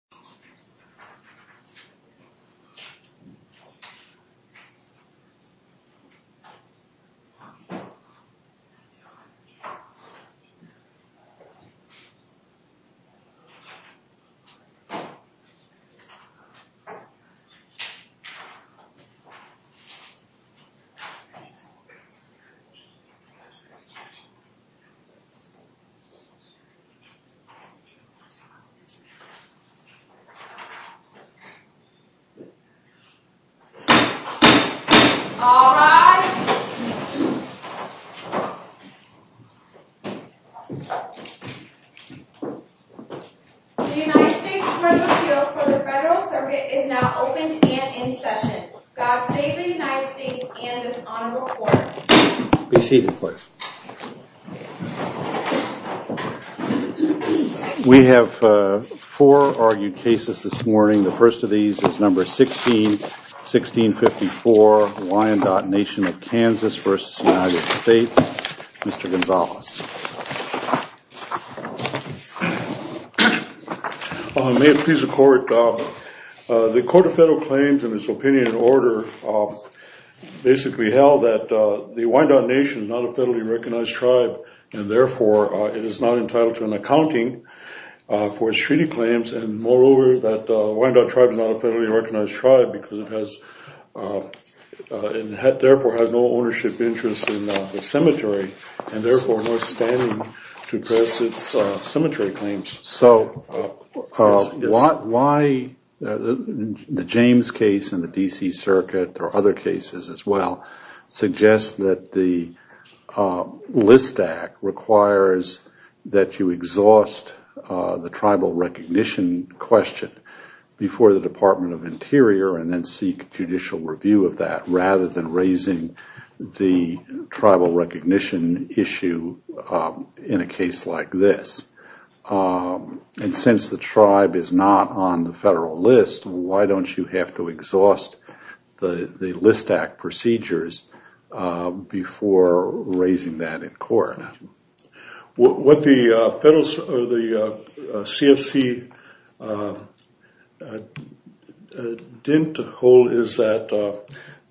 U.S. Embassy in the United States of America. All rise. The United States presidential seal for the Federal Circuit is now opened and in session. God save the United States and this honorable court. Be seated, please. We have four argued cases this morning. The first of these is number 16, 1654. Hawaiian Nation of Kansas v. United States. Mr. Gonzales. May it please the court. The Court of Federal Claims in its opinion order basically held that the Wyandot Nation is not a federally recognized tribe and therefore it is not entitled to an accounting for its treaty claims and moreover that the Wyandot Tribe is not a federally recognized tribe because it has, and therefore has no ownership interest in the cemetery and therefore no standing to press its cemetery claims. So why the James case in the D.C. Circuit or other cases as well suggest that the Wyandot Nation is entitled to judicial review of that rather than raising the tribal recognition issue in a case like this? And since the tribe is not on the federal list, why don't you have to exhaust the list act procedures before raising that in court? What the CFC didn't hold is that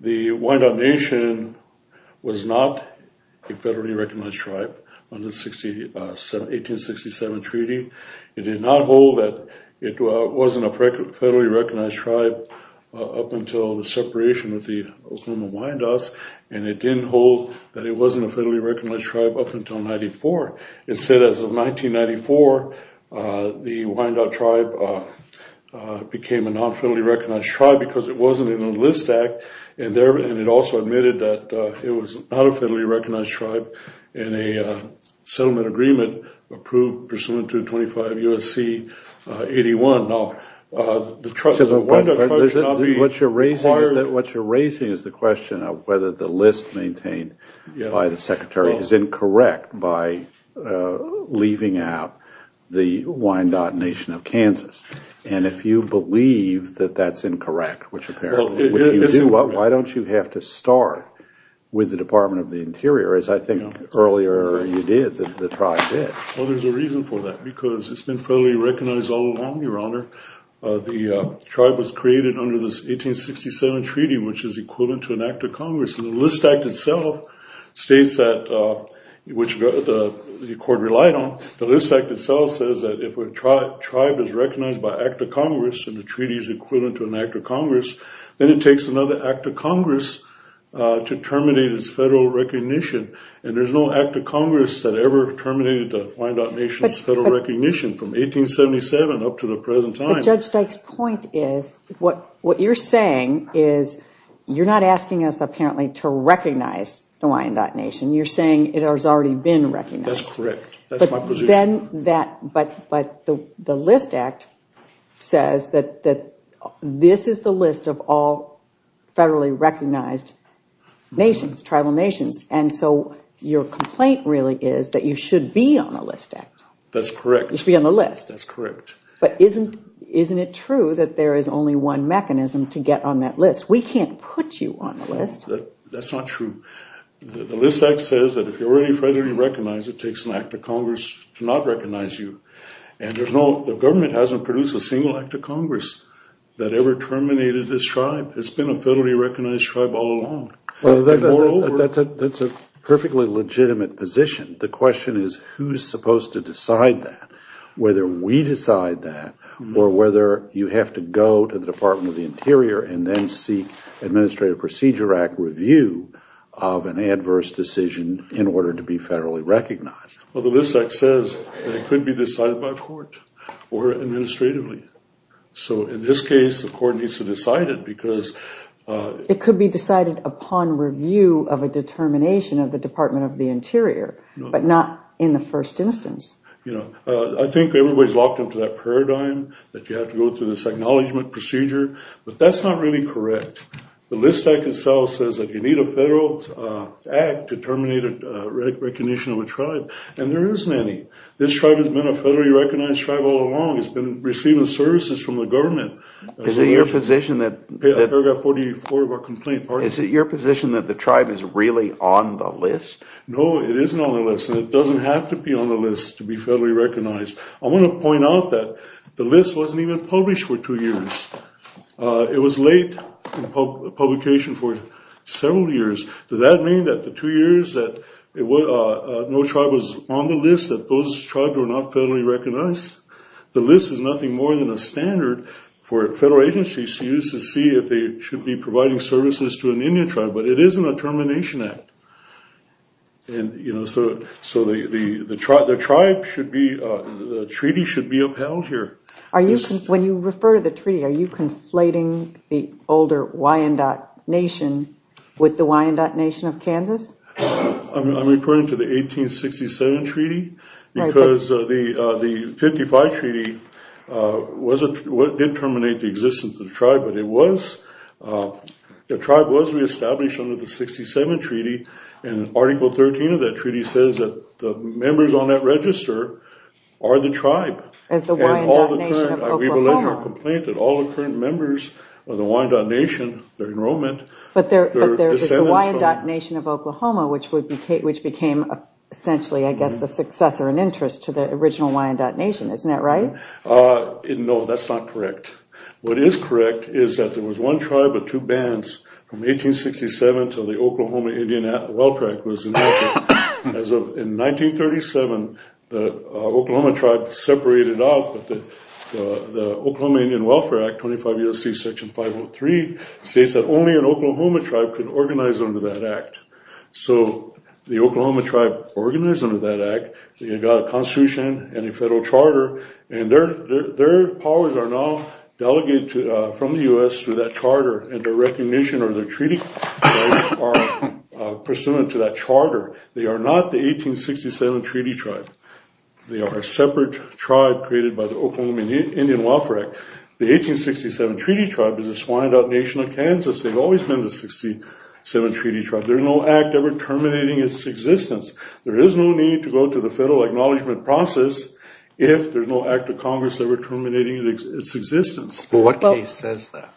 the Wyandot Nation was not a federally recognized tribe under the 1867 treaty. It did not hold that it wasn't a federally recognized tribe up until the separation with the Oklahoma Wyandots and it didn't hold that it wasn't a federally recognized tribe up until 1994. Instead, as of 1994, the Wyandot Tribe became a non-federally recognized tribe because it wasn't in the List Act and it also admitted that it was not a federally recognized tribe in a settlement agreement approved pursuant to 25 U.S.C. 81. What you're raising is the question of whether the list maintained by the Secretary is incorrect by leaving out the Wyandot Nation of Kansas. And if you believe that that's incorrect, why don't you have to start with the Department of the Interior as I think earlier you did, the tribe did. Well, there's a reason for that because it's been federally recognized all along, Your Honor. The tribe was created under this 1867 treaty, which is equivalent to an act of Congress. The List Act itself states that, which the court relied on, the List Act itself says that if a tribe is recognized by an act of Congress and the treaty is equivalent to an act of Congress, then it takes another act of Congress to terminate its federal recognition. And there's no act of Congress that ever terminated the Wyandot Nation's federal recognition from 1877 up to the present time. But Judge Dyke's point is what you're saying is you're not asking us apparently to recognize the Wyandot Nation. You're saying it has already been recognized. That's correct. That's my position. But the List Act says that this is the list of all federally recognized nations, tribal nations. And so your complaint really is that you should be on a list act. That's correct. You should be on the list. That's correct. But isn't it true that there is only one mechanism to get on that list? We can't put you on the list. That's not true. The List Act says that if you're already federally recognized, it takes an act of Congress to not recognize you. And the government hasn't produced a single act of Congress that ever terminated this tribe. It's been a federally recognized tribe all along. That's a perfectly legitimate position. The question is who's supposed to decide that, whether we decide that or whether you have to go to the Department of the Interior and then seek Administrative Procedure Act review of an adverse decision in order to be federally recognized. Well, the List Act says that it could be decided by court or administratively. So in this case, the court needs to decide it because... It could be decided upon review of a determination of the Department of the Interior, but not in the first instance. I think everybody's locked into that paradigm that you have to go through this acknowledgment procedure, but that's not really correct. The List Act itself says that you need a federal act to terminate a recognition of a tribe, and there isn't any. This tribe has been a federally recognized tribe all along. It's been receiving services from the government. Is it your position that... Paragraph 44 of our complaint... Is it your position that the tribe is really on the list? No, it isn't on the list, and it doesn't have to be on the list to be federally recognized. I want to point out that the list wasn't even published for two years. It was late in publication for several years. Does that mean that the two years that no tribe was on the list that those tribes were not federally recognized? The list is nothing more than a standard for federal agencies to use to see if they should be providing services to an Indian tribe, but it isn't a termination act. The treaty should be upheld here. When you refer to the treaty, are you conflating the older Wyandotte Nation with the Wyandotte Nation of Kansas? I'm referring to the 1867 treaty, because the 1855 treaty did terminate the existence of the tribe, but the tribe was reestablished under the 1867 treaty. Article 13 of that treaty says that the members on that register are the tribe. As the Wyandotte Nation of Oklahoma... ...which became essentially, I guess, the successor and interest to the original Wyandotte Nation, isn't that right? No, that's not correct. What is correct is that there was one tribe of two bands from 1867 until the Oklahoma Indian Welfare Act was enacted. In 1937, the Oklahoma tribe separated out, but the Oklahoma Indian Welfare Act, 25 U.S.C. Section 503, states that only an Oklahoma tribe could organize under that act. So, the Oklahoma tribe organized under that act. They got a constitution and a federal charter, and their powers are now delegated from the U.S. through that charter. Their recognition or their treaty rights are pursuant to that charter. They are not the 1867 treaty tribe. They are a separate tribe created by the Oklahoma Indian Welfare Act. The 1867 treaty tribe is the Wyandotte Nation of Kansas. They've always been the 1867 treaty tribe. There's no act ever terminating its existence. There is no need to go to the federal acknowledgement process if there's no act of Congress ever terminating its existence. Well, what case says that?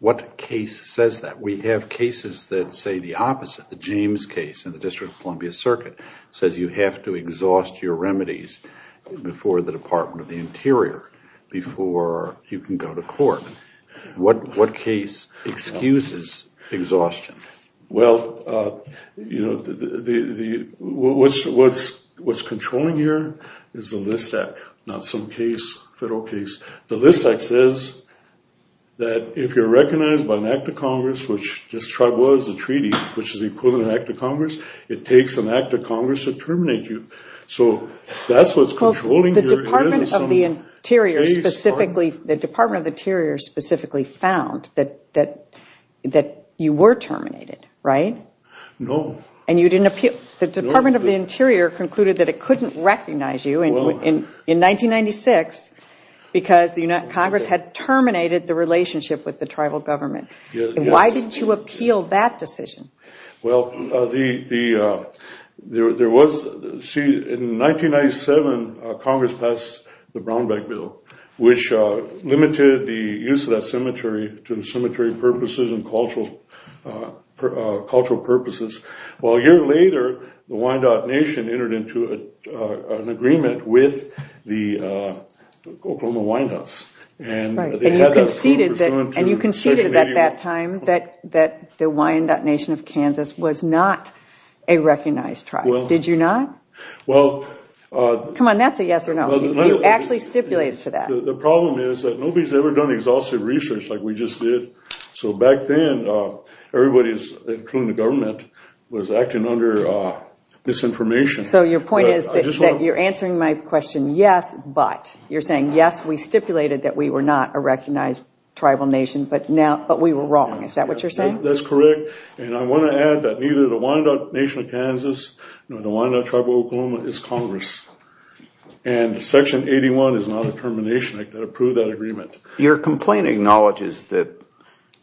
What case says that? We have cases that say the opposite. The James case in the District of Columbia Circuit says you have to exhaust your remedies before the Department of the Interior, before you can go to court. What case excuses exhaustion? Well, you know, what's controlling here is the list act, not some case, federal case. The list act says that if you're recognized by an act of Congress, which this tribe was a treaty, which is equivalent to an act of Congress, it takes an act of Congress to terminate you. So that's what's controlling here. The Department of the Interior specifically found that you were terminated, right? No. The Department of the Interior concluded that it couldn't recognize you in 1996 because Congress had terminated the relationship with the tribal government. Why didn't you appeal that decision? Well, there was, see, in 1997, Congress passed the Brown Bag Bill, which limited the use of that cemetery to the cemetery purposes and cultural purposes. Well, a year later, the Wyandotte Nation entered into an agreement with the Oklahoma Wyandottes. And you conceded at that time that the Wyandotte Nation of Kansas was not a recognized tribe. Did you not? Well... Come on, that's a yes or no. You actually stipulated for that. The problem is that nobody's ever done exhaustive research like we just did. So back then, everybody, including the government, was acting under disinformation. So your point is that you're answering my question, yes, but. You're saying, yes, we stipulated that we were not a recognized tribal nation, but we were wrong. Is that what you're saying? That's correct. And I want to add that neither the Wyandotte Nation of Kansas nor the Wyandotte Tribal Oklahoma is Congress. And Section 81 is not a termination. I can't approve that agreement. Your complaint acknowledges that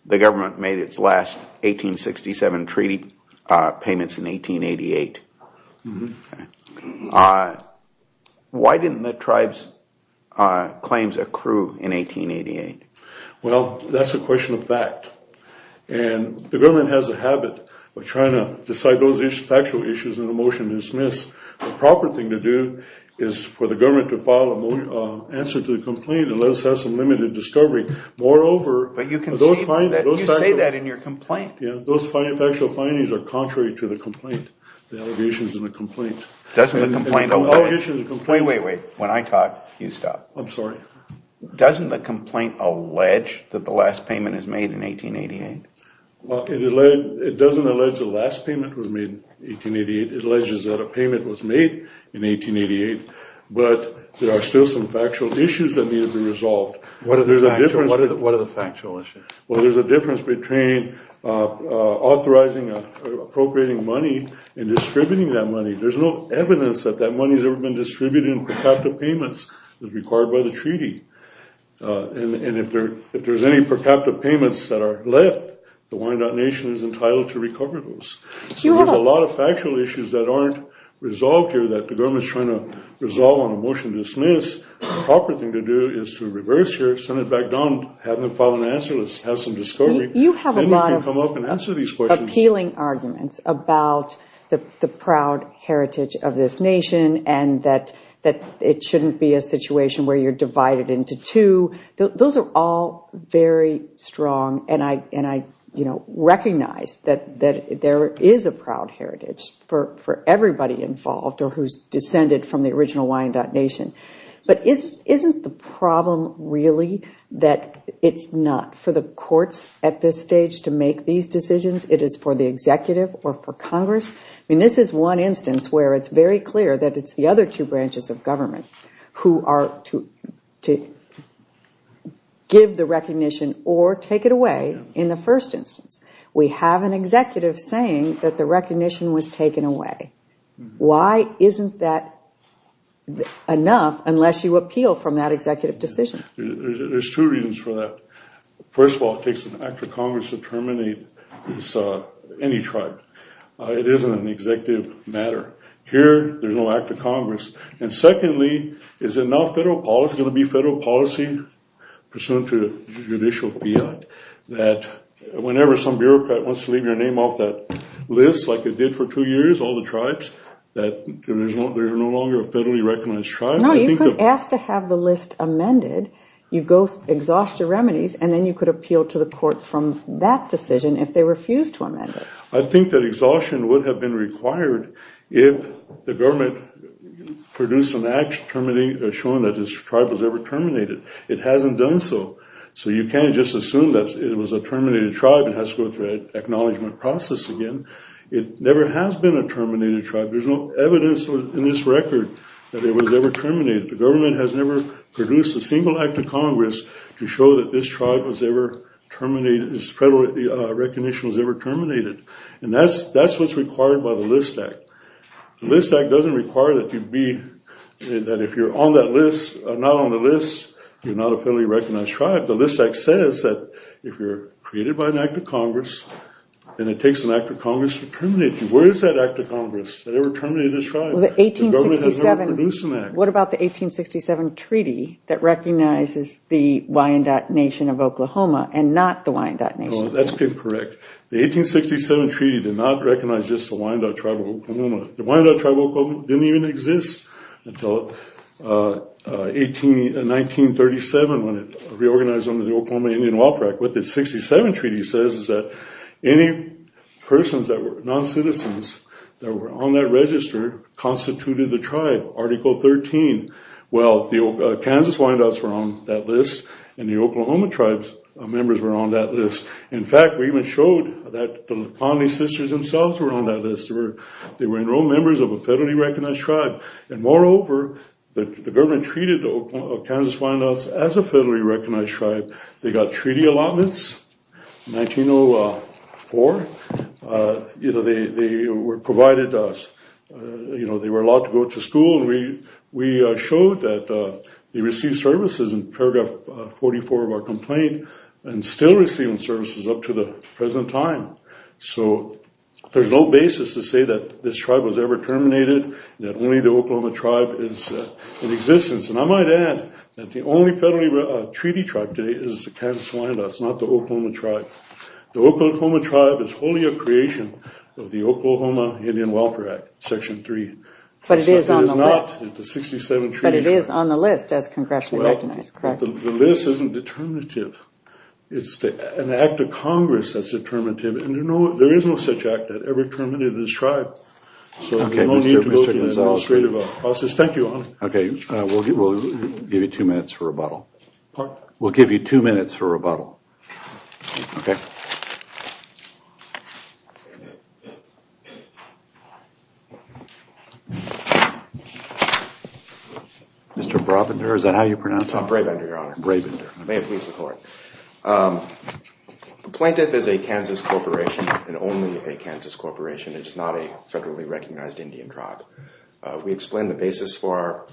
the government made its last 1867 treaty payments in 1888. Why didn't the tribe's claims accrue in 1888? Well, that's a question of fact. And the government has a habit of trying to decide those factual issues in a motion to dismiss. The proper thing to do is for the government to file an answer to the complaint and let us have some limited discovery. Moreover. But you can say that in your complaint. Those factual findings are contrary to the complaint, the allegations in the complaint. Doesn't the complaint. Wait, wait, wait. When I talk, you stop. I'm sorry. Doesn't the complaint allege that the last payment is made in 1888? Well, it doesn't allege the last payment was made in 1888. It alleges that a payment was made in 1888. But there are still some factual issues that need to be resolved. What are the factual issues? Well, there's a difference between authorizing or appropriating money and distributing that money. There's no evidence that that money has ever been distributed in per capita payments as required by the treaty. And if there's any per capita payments that are left, the Wyandotte Nation is entitled to recover those. So there's a lot of factual issues that aren't resolved here that the government is trying to resolve on a motion to dismiss. The proper thing to do is to reverse here, send it back down, have them file an answer, let's have some discovery. Then you can come up and answer these questions. You have a lot of appealing arguments about the proud heritage of this nation and that it shouldn't be a situation where you're divided into two. Those are all very strong. And I recognize that there is a proud heritage for everybody involved or who's descended from the original Wyandotte Nation. But isn't the problem really that it's not for the courts at this stage to make these decisions? It is for the executive or for Congress? I mean, this is one instance where it's very clear that it's the other two branches of government who are to give the recognition or take it away in the first instance. We have an executive saying that the recognition was taken away. Why isn't that enough unless you appeal from that executive decision? There's two reasons for that. First of all, it takes an act of Congress to terminate any tribe. It isn't an executive matter. Here, there's no act of Congress. And secondly, is it not federal policy? Is it going to be federal policy pursuant to judicial fiat that whenever some bureaucrat wants to leave your name off that list like it did for two years, all the tribes, that they're no longer a federally recognized tribe? No, you could ask to have the list amended. You go exhaust your remedies, and then you could appeal to the court from that decision if they refuse to amend it. I think that exhaustion would have been required if the government produced an act showing that this tribe was ever terminated. It hasn't done so. So you can't just assume that it was a terminated tribe and has to go through an acknowledgment process again. It never has been a terminated tribe. There's no evidence in this record that it was ever terminated. The government has never produced a single act of Congress to show that this tribe was ever terminated, this federal recognition was ever terminated. And that's what's required by the List Act. The List Act doesn't require that if you're on that list, not on the list, you're not a federally recognized tribe. The List Act says that if you're created by an act of Congress and it takes an act of Congress to terminate you, where is that act of Congress that ever terminated this tribe? The government has never produced an act. What about the 1867 treaty that recognizes the Wyandotte Nation of Oklahoma and not the Wyandotte Nation? That's correct. The 1867 treaty did not recognize just the Wyandotte Tribe of Oklahoma. The Wyandotte Tribe of Oklahoma didn't even exist until 1937 when it reorganized under the Oklahoma Indian Welfare Act. What the 1967 treaty says is that any persons that were non-citizens that were on that register constituted the tribe. Article 13. Well, the Kansas Wyandottes were on that list and the Oklahoma Tribe members were on that list. In fact, we even showed that the Pontee Sisters themselves were on that list. They were enrolled members of a federally recognized tribe. And moreover, the government treated the Kansas Wyandottes as a federally recognized tribe. They got treaty allotments in 1904. They were provided to us. They were allowed to go to school. We showed that they received services in paragraph 44 of our complaint and still receiving services up to the present time. So there's no basis to say that this tribe was ever terminated, that only the Oklahoma Tribe is in existence. And I might add that the only federally treaty tribe today is the Kansas Wyandottes, not the Oklahoma Tribe. The Oklahoma Tribe is wholly a creation of the Oklahoma Indian Welfare Act, Section 3. But it is on the list. It is not in the 1967 treaty. But it is on the list as congressionally recognized, correct? Well, the list isn't determinative. It's an act of Congress that's determinative. And there is no such act that ever terminated this tribe. So there's no need to go through that administrative process. Thank you. Okay. We'll give you two minutes for rebuttal. Pardon? We'll give you two minutes for rebuttal. Okay. Mr. Brabender, is that how you pronounce it? I'm Brabender, Your Honor. Brabender. May it please the Court. The plaintiff is a Kansas corporation and only a Kansas corporation. It is not a federally recognized Indian tribe. We explained the basis for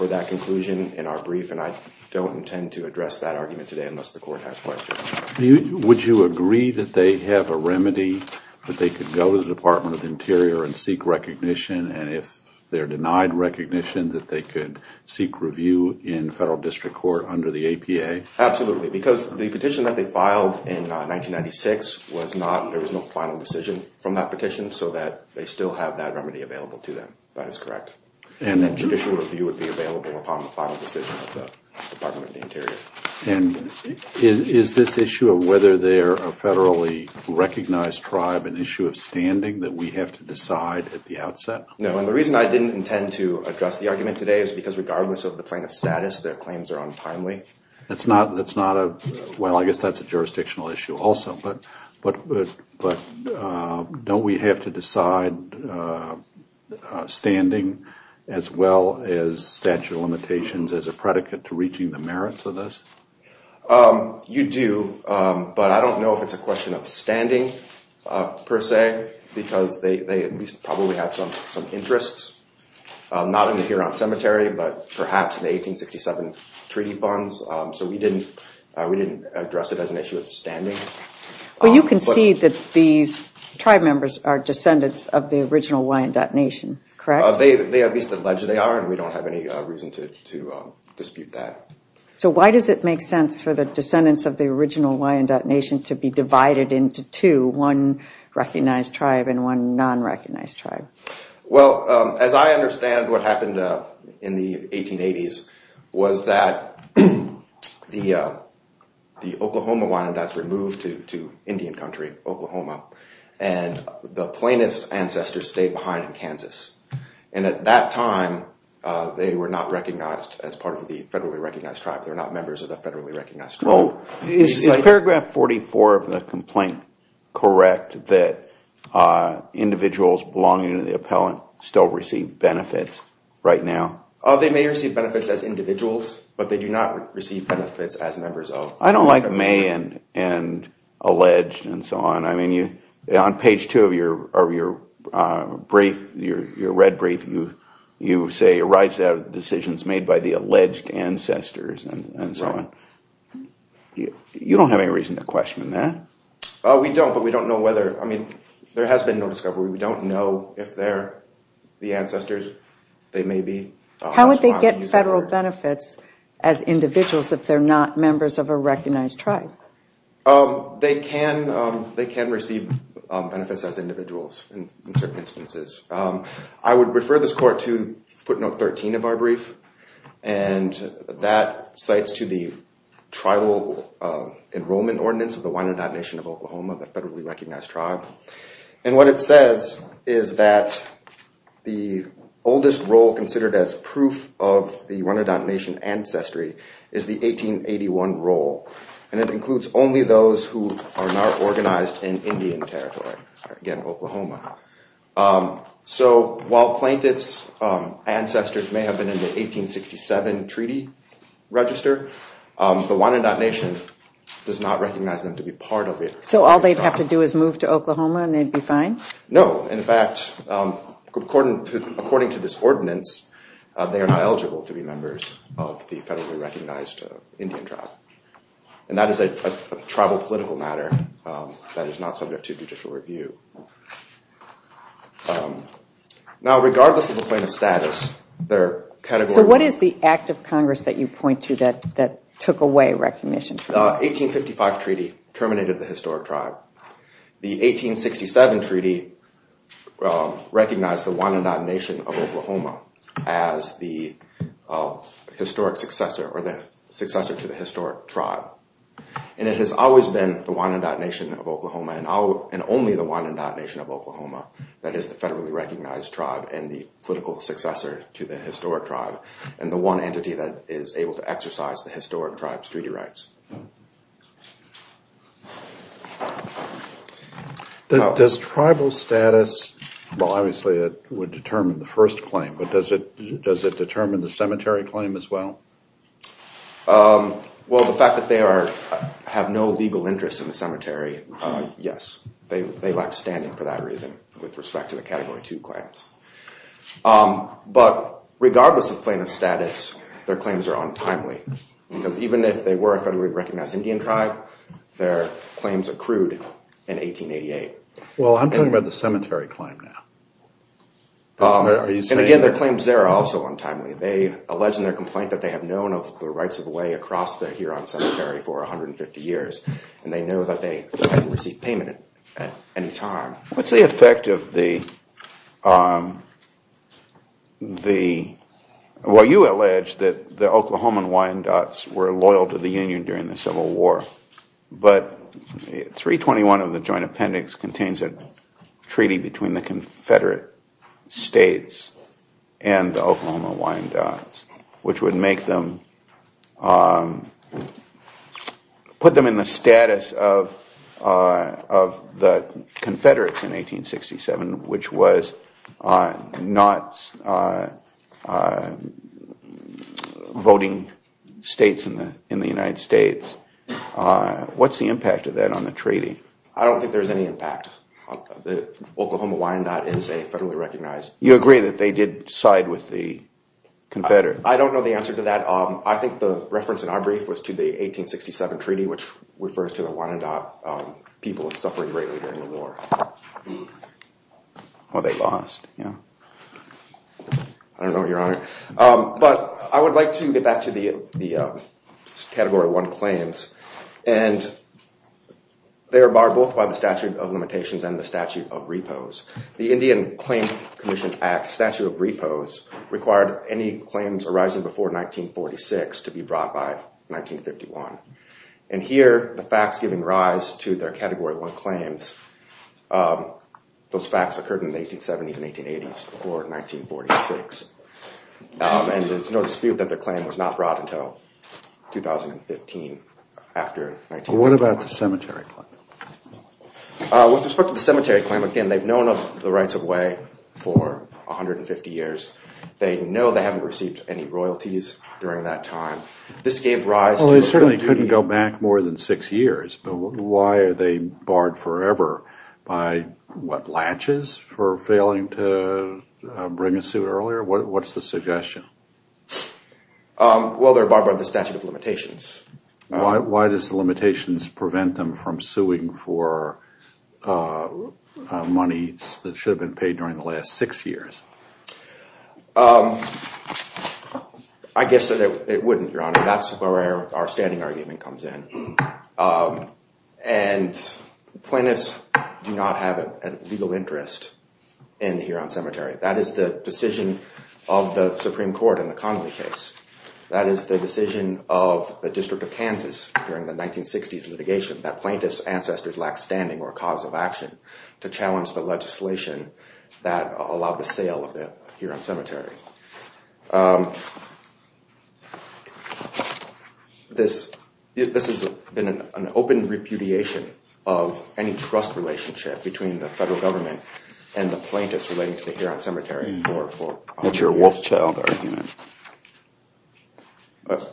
that conclusion in our brief, and I don't intend to address that argument today unless the Court has questions. Would you agree that they have a remedy, that they could go to the Department of the Interior and seek recognition, and if they're denied recognition, that they could seek review in federal district court under the APA? Absolutely. Because the petition that they filed in 1996 was not, there was no final decision from that petition, so that they still have that remedy available to them. That is correct. And that judicial review would be available upon the final decision of the Department of the Interior. And is this issue of whether they're a federally recognized tribe an issue of standing that we have to decide at the outset? No. And the reason I didn't intend to address the argument today is because regardless of the plaintiff's status, their claims are untimely. That's not a, well, I guess that's a jurisdictional issue also. But don't we have to decide standing as well as statute of limitations as a predicate to reaching the merits of this? You do, but I don't know if it's a question of standing per se, because they at least probably have some interests, not in the Huron Cemetery, but perhaps the 1867 treaty funds. So we didn't address it as an issue of standing. Well, you can see that these tribe members are descendants of the original Wyandotte Nation, correct? They at least allege they are, and we don't have any reason to dispute that. So why does it make sense for the descendants of the original Wyandotte Nation to be divided into two, one recognized tribe and one non-recognized tribe? Well, as I understand, what happened in the 1880s was that the Oklahoma Wyandottes were moved to Indian Country, Oklahoma, and the plaintiff's ancestors stayed behind in Kansas. And at that time, they were not recognized as part of the federally recognized tribe. They're not members of the federally recognized tribe. Is paragraph 44 of the complaint correct that individuals belonging to the appellant still receive benefits right now? They may receive benefits as individuals, but they do not receive benefits as members of the tribe. I don't like may and alleged and so on. I mean, on page two of your brief, your red brief, you say, arise out of decisions made by the alleged ancestors and so on. You don't have any reason to question that. We don't, but we don't know whether. I mean, there has been no discovery. We don't know if they're the ancestors. They may be. How would they get federal benefits as individuals if they're not members of a recognized tribe? They can receive benefits as individuals in certain instances. I would refer this court to footnote 13 of our brief, and that cites to the tribal enrollment ordinance of the Winnedot Nation of Oklahoma, the federally recognized tribe. And what it says is that the oldest role considered as proof of the Winnedot Nation ancestry is the 1881 role, and it includes only those who are not organized in Indian territory, again, Oklahoma. So while plaintiffs' ancestors may have been in the 1867 treaty register, the Winnedot Nation does not recognize them to be part of it. So all they'd have to do is move to Oklahoma and they'd be fine? No. In fact, according to this ordinance, they are not eligible to be members of the federally recognized Indian tribe. And that is a tribal political matter that is not subject to judicial review. Now, regardless of the plaintiff's status, they're categorical. So what is the act of Congress that you point to that took away recognition? The 1855 treaty terminated the historic tribe. The 1867 treaty recognized the Winnedot Nation of Oklahoma as the historic successor or the successor to the historic tribe. And it has always been the Winnedot Nation of Oklahoma and only the Winnedot Nation of Oklahoma that is the federally recognized tribe and the political successor to the historic tribe and the one entity that is able to exercise the historic tribe's treaty rights. Does tribal status, well, obviously it would determine the first claim, but does it determine the cemetery claim as well? Well, the fact that they have no legal interest in the cemetery, yes. They lack standing for that reason with respect to the Category 2 claims. But regardless of plaintiff's status, their claims are untimely. Because even if they were a federally recognized Indian tribe, their claims accrued in 1888. Well, I'm talking about the cemetery claim now. And again, their claims there are also untimely. They allege in their complaint that they have known of the rights of way across the Huron Cemetery for 150 years. And they know that they didn't receive payment at any time. What's the effect of the, well, you allege that the Oklahoma Winnedots were loyal to the Union during the Civil War. But 321 of the Joint Appendix contains a treaty between the Confederate states and the Oklahoma Winnedots, which would make them, put them in the status of the Confederates in 1867, which was not voting states in the United States. What's the impact of that on the treaty? I don't think there's any impact. The Oklahoma Winnedot is a federally recognized. You agree that they did side with the Confederates? I don't know the answer to that. I think the reference in our brief was to the 1867 treaty, which refers to the Winnedot people suffering greatly during the war. Well, they lost. I don't know, Your Honor. But I would like to get back to the Category 1 claims. And they are barred both by the Statute of Limitations and the Statute of Repos. The Indian Claim Commission Act Statute of Repos required any claims arising before 1946 to be brought by 1951. And here, the facts giving rise to their Category 1 claims, those facts occurred in the 1870s and 1880s, before 1946. And there's no dispute that the claim was not brought until 2015, after 1946. What about the cemetery claim? With respect to the cemetery claim, again, they've known of the rights of way for 150 years. They know they haven't received any royalties during that time. This gave rise to a real duty. Well, they certainly couldn't go back more than six years, but why are they barred forever by, what, latches for failing to bring a sue earlier? What's the suggestion? Well, they're barred by the Statute of Limitations. Why does the limitations prevent them from suing for money that should have been paid during the last six years? I guess that it wouldn't, Your Honor. That's where our standing argument comes in. And plaintiffs do not have a legal interest in the Huron Cemetery. That is the decision of the Supreme Court in the Connolly case. That is the decision of the District of Kansas during the 1960s litigation, that plaintiffs' ancestors lacked standing or cause of action to challenge the legislation that allowed the sale of the Huron Cemetery. This has been an open repudiation of any trust relationship between the federal government and the plaintiffs relating to the Huron Cemetery. That's your Wolfchild argument.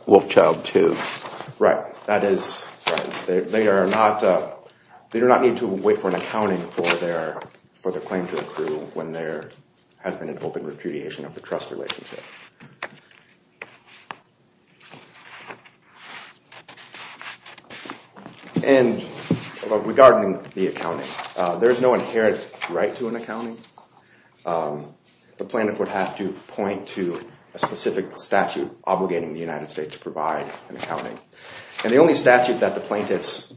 Wolfchild II. Right. That is right. They do not need to wait for an accounting for their claim to accrue when there has been an open repudiation of the trust relationship. And regarding the accounting, there is no inherent right to an accounting. The plaintiff would have to point to a specific statute obligating the United States to provide an accounting. And the only statute that the plaintiffs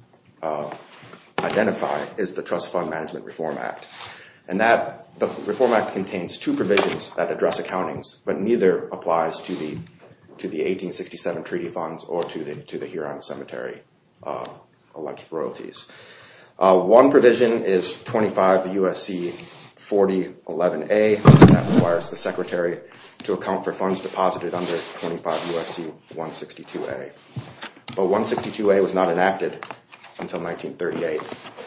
identify is the Trust Fund Management Reform Act. And the Reform Act contains two provisions that address accountings, but neither applies to the 1867 treaty funds or to the Huron Cemetery alleged royalties. One provision is 25 U.S.C. 4011A, which requires the secretary to account for funds deposited under 25 U.S.C. 162A. But 162A was not enacted until 1938,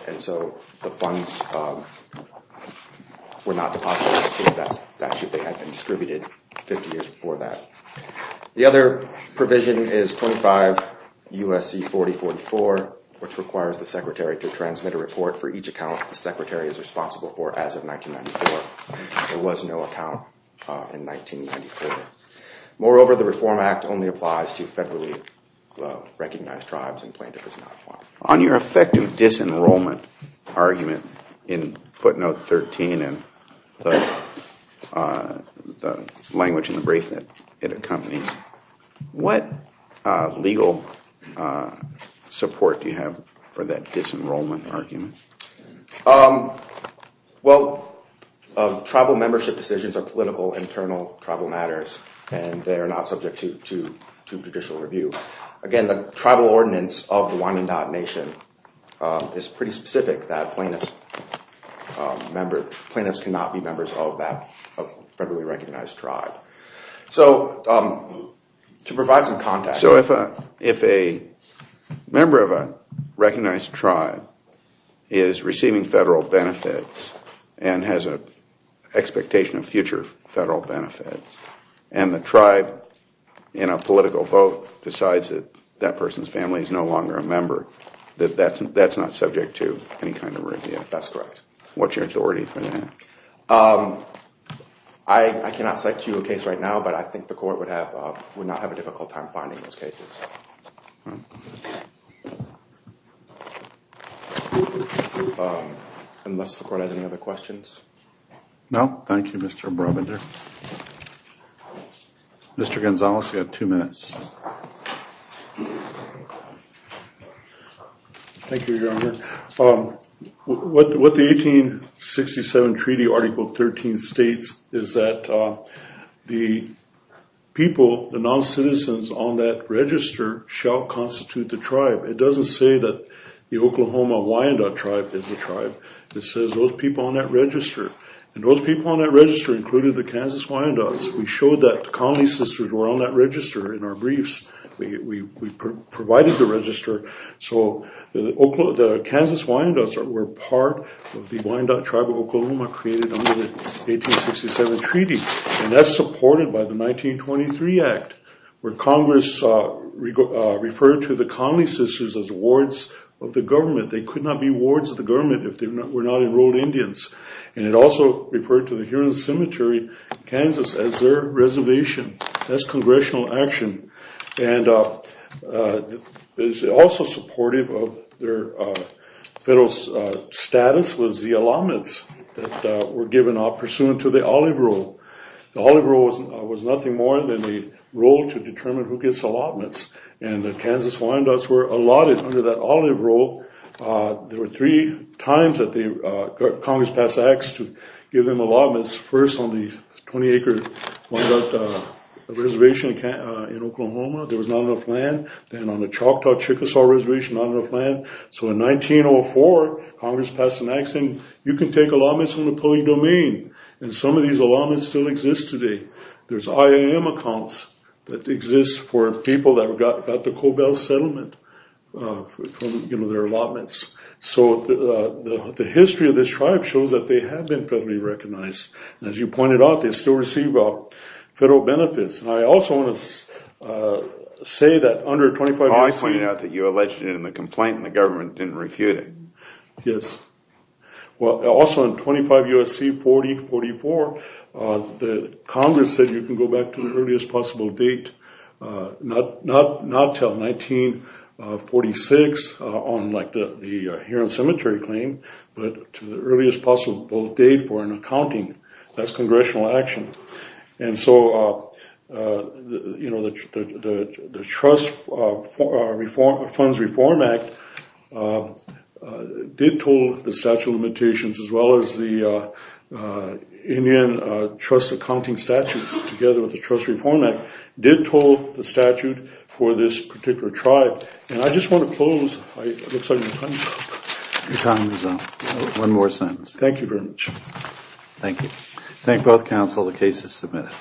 and so the funds were not deposited. That statute had been distributed 50 years before that. The other provision is 25 U.S.C. 4044, which requires the secretary to transmit a report for each account the secretary is responsible for as of 1994. There was no account in 1994. Moreover, the Reform Act only applies to federally recognized tribes, and plaintiff is not required. On your effective disenrollment argument in footnote 13 and the language in the brief that it accompanies, what legal support do you have for that disenrollment argument? Well, tribal membership decisions are political internal tribal matters, and they are not subject to judicial review. Again, the tribal ordinance of the Wyandotte Nation is pretty specific that plaintiffs cannot be members of that federally recognized tribe. So to provide some context. So if a member of a recognized tribe is receiving federal benefits and has an expectation of future federal benefits, and the tribe, in a political vote, decides that that person's family is no longer a member, that that's not subject to any kind of review? That's correct. What's your authority for that? I cannot cite to you a case right now, but I think the court would not have a difficult time finding those cases. Unless the court has any other questions? No, thank you, Mr. Brabender. Mr. Gonzalez, you have two minutes. Thank you, Your Honor. What the 1867 Treaty Article 13 states is that the people, the non-citizens on that register shall constitute the tribe. It doesn't say that the Oklahoma Wyandotte Tribe is a tribe. It says those people on that register, and those people on that register included the Kansas Wyandottes. We showed that the Connelly sisters were on that register in our briefs. We provided the register. The Kansas Wyandottes were part of the Wyandotte Tribe of Oklahoma created under the 1867 Treaty, and that's supported by the 1923 Act, where Congress referred to the Connelly sisters as wards of the government. They could not be wards of the government if they were not enrolled Indians. It also referred to the Huron Cemetery in Kansas as their reservation. That's congressional action. Also supportive of their federal status was the allotments that were given pursuant to the Olive Rule. The Olive Rule was nothing more than the rule to determine who gets allotments, and the Kansas Wyandottes were allotted under that Olive Rule. There were three times that Congress passed Acts to give them allotments. First on the 20-acre Wyandotte Reservation in Oklahoma, there was not enough land. Then on the Choctaw Chickasaw Reservation, not enough land. So in 1904, Congress passed an Act saying, you can take allotments from the polling domain, and some of these allotments still exist today. There's IAM accounts that exist for people that got the Cobell Settlement from their allotments. The history of this tribe shows that they have been federally recognized. As you pointed out, they still receive federal benefits. I also want to say that under 25 U.S.C. I pointed out that you alleged it in the complaint and the government didn't refute it. Yes. Also in 25 U.S.C. 4044, Congress said you can go back to the earliest possible date, not until 1946 on the Heron Cemetery claim, but to the earliest possible date for an accounting. That's congressional action. And so the Trust Funds Reform Act did total the statute of limitations, as well as the Indian Trust Accounting Statutes together with the Trust Reform Act did total the statute for this particular tribe. And I just want to close. It looks like my time is up. Your time is up. One more sentence. Thank you very much. Thank you. Thank both counsel. The case is submitted.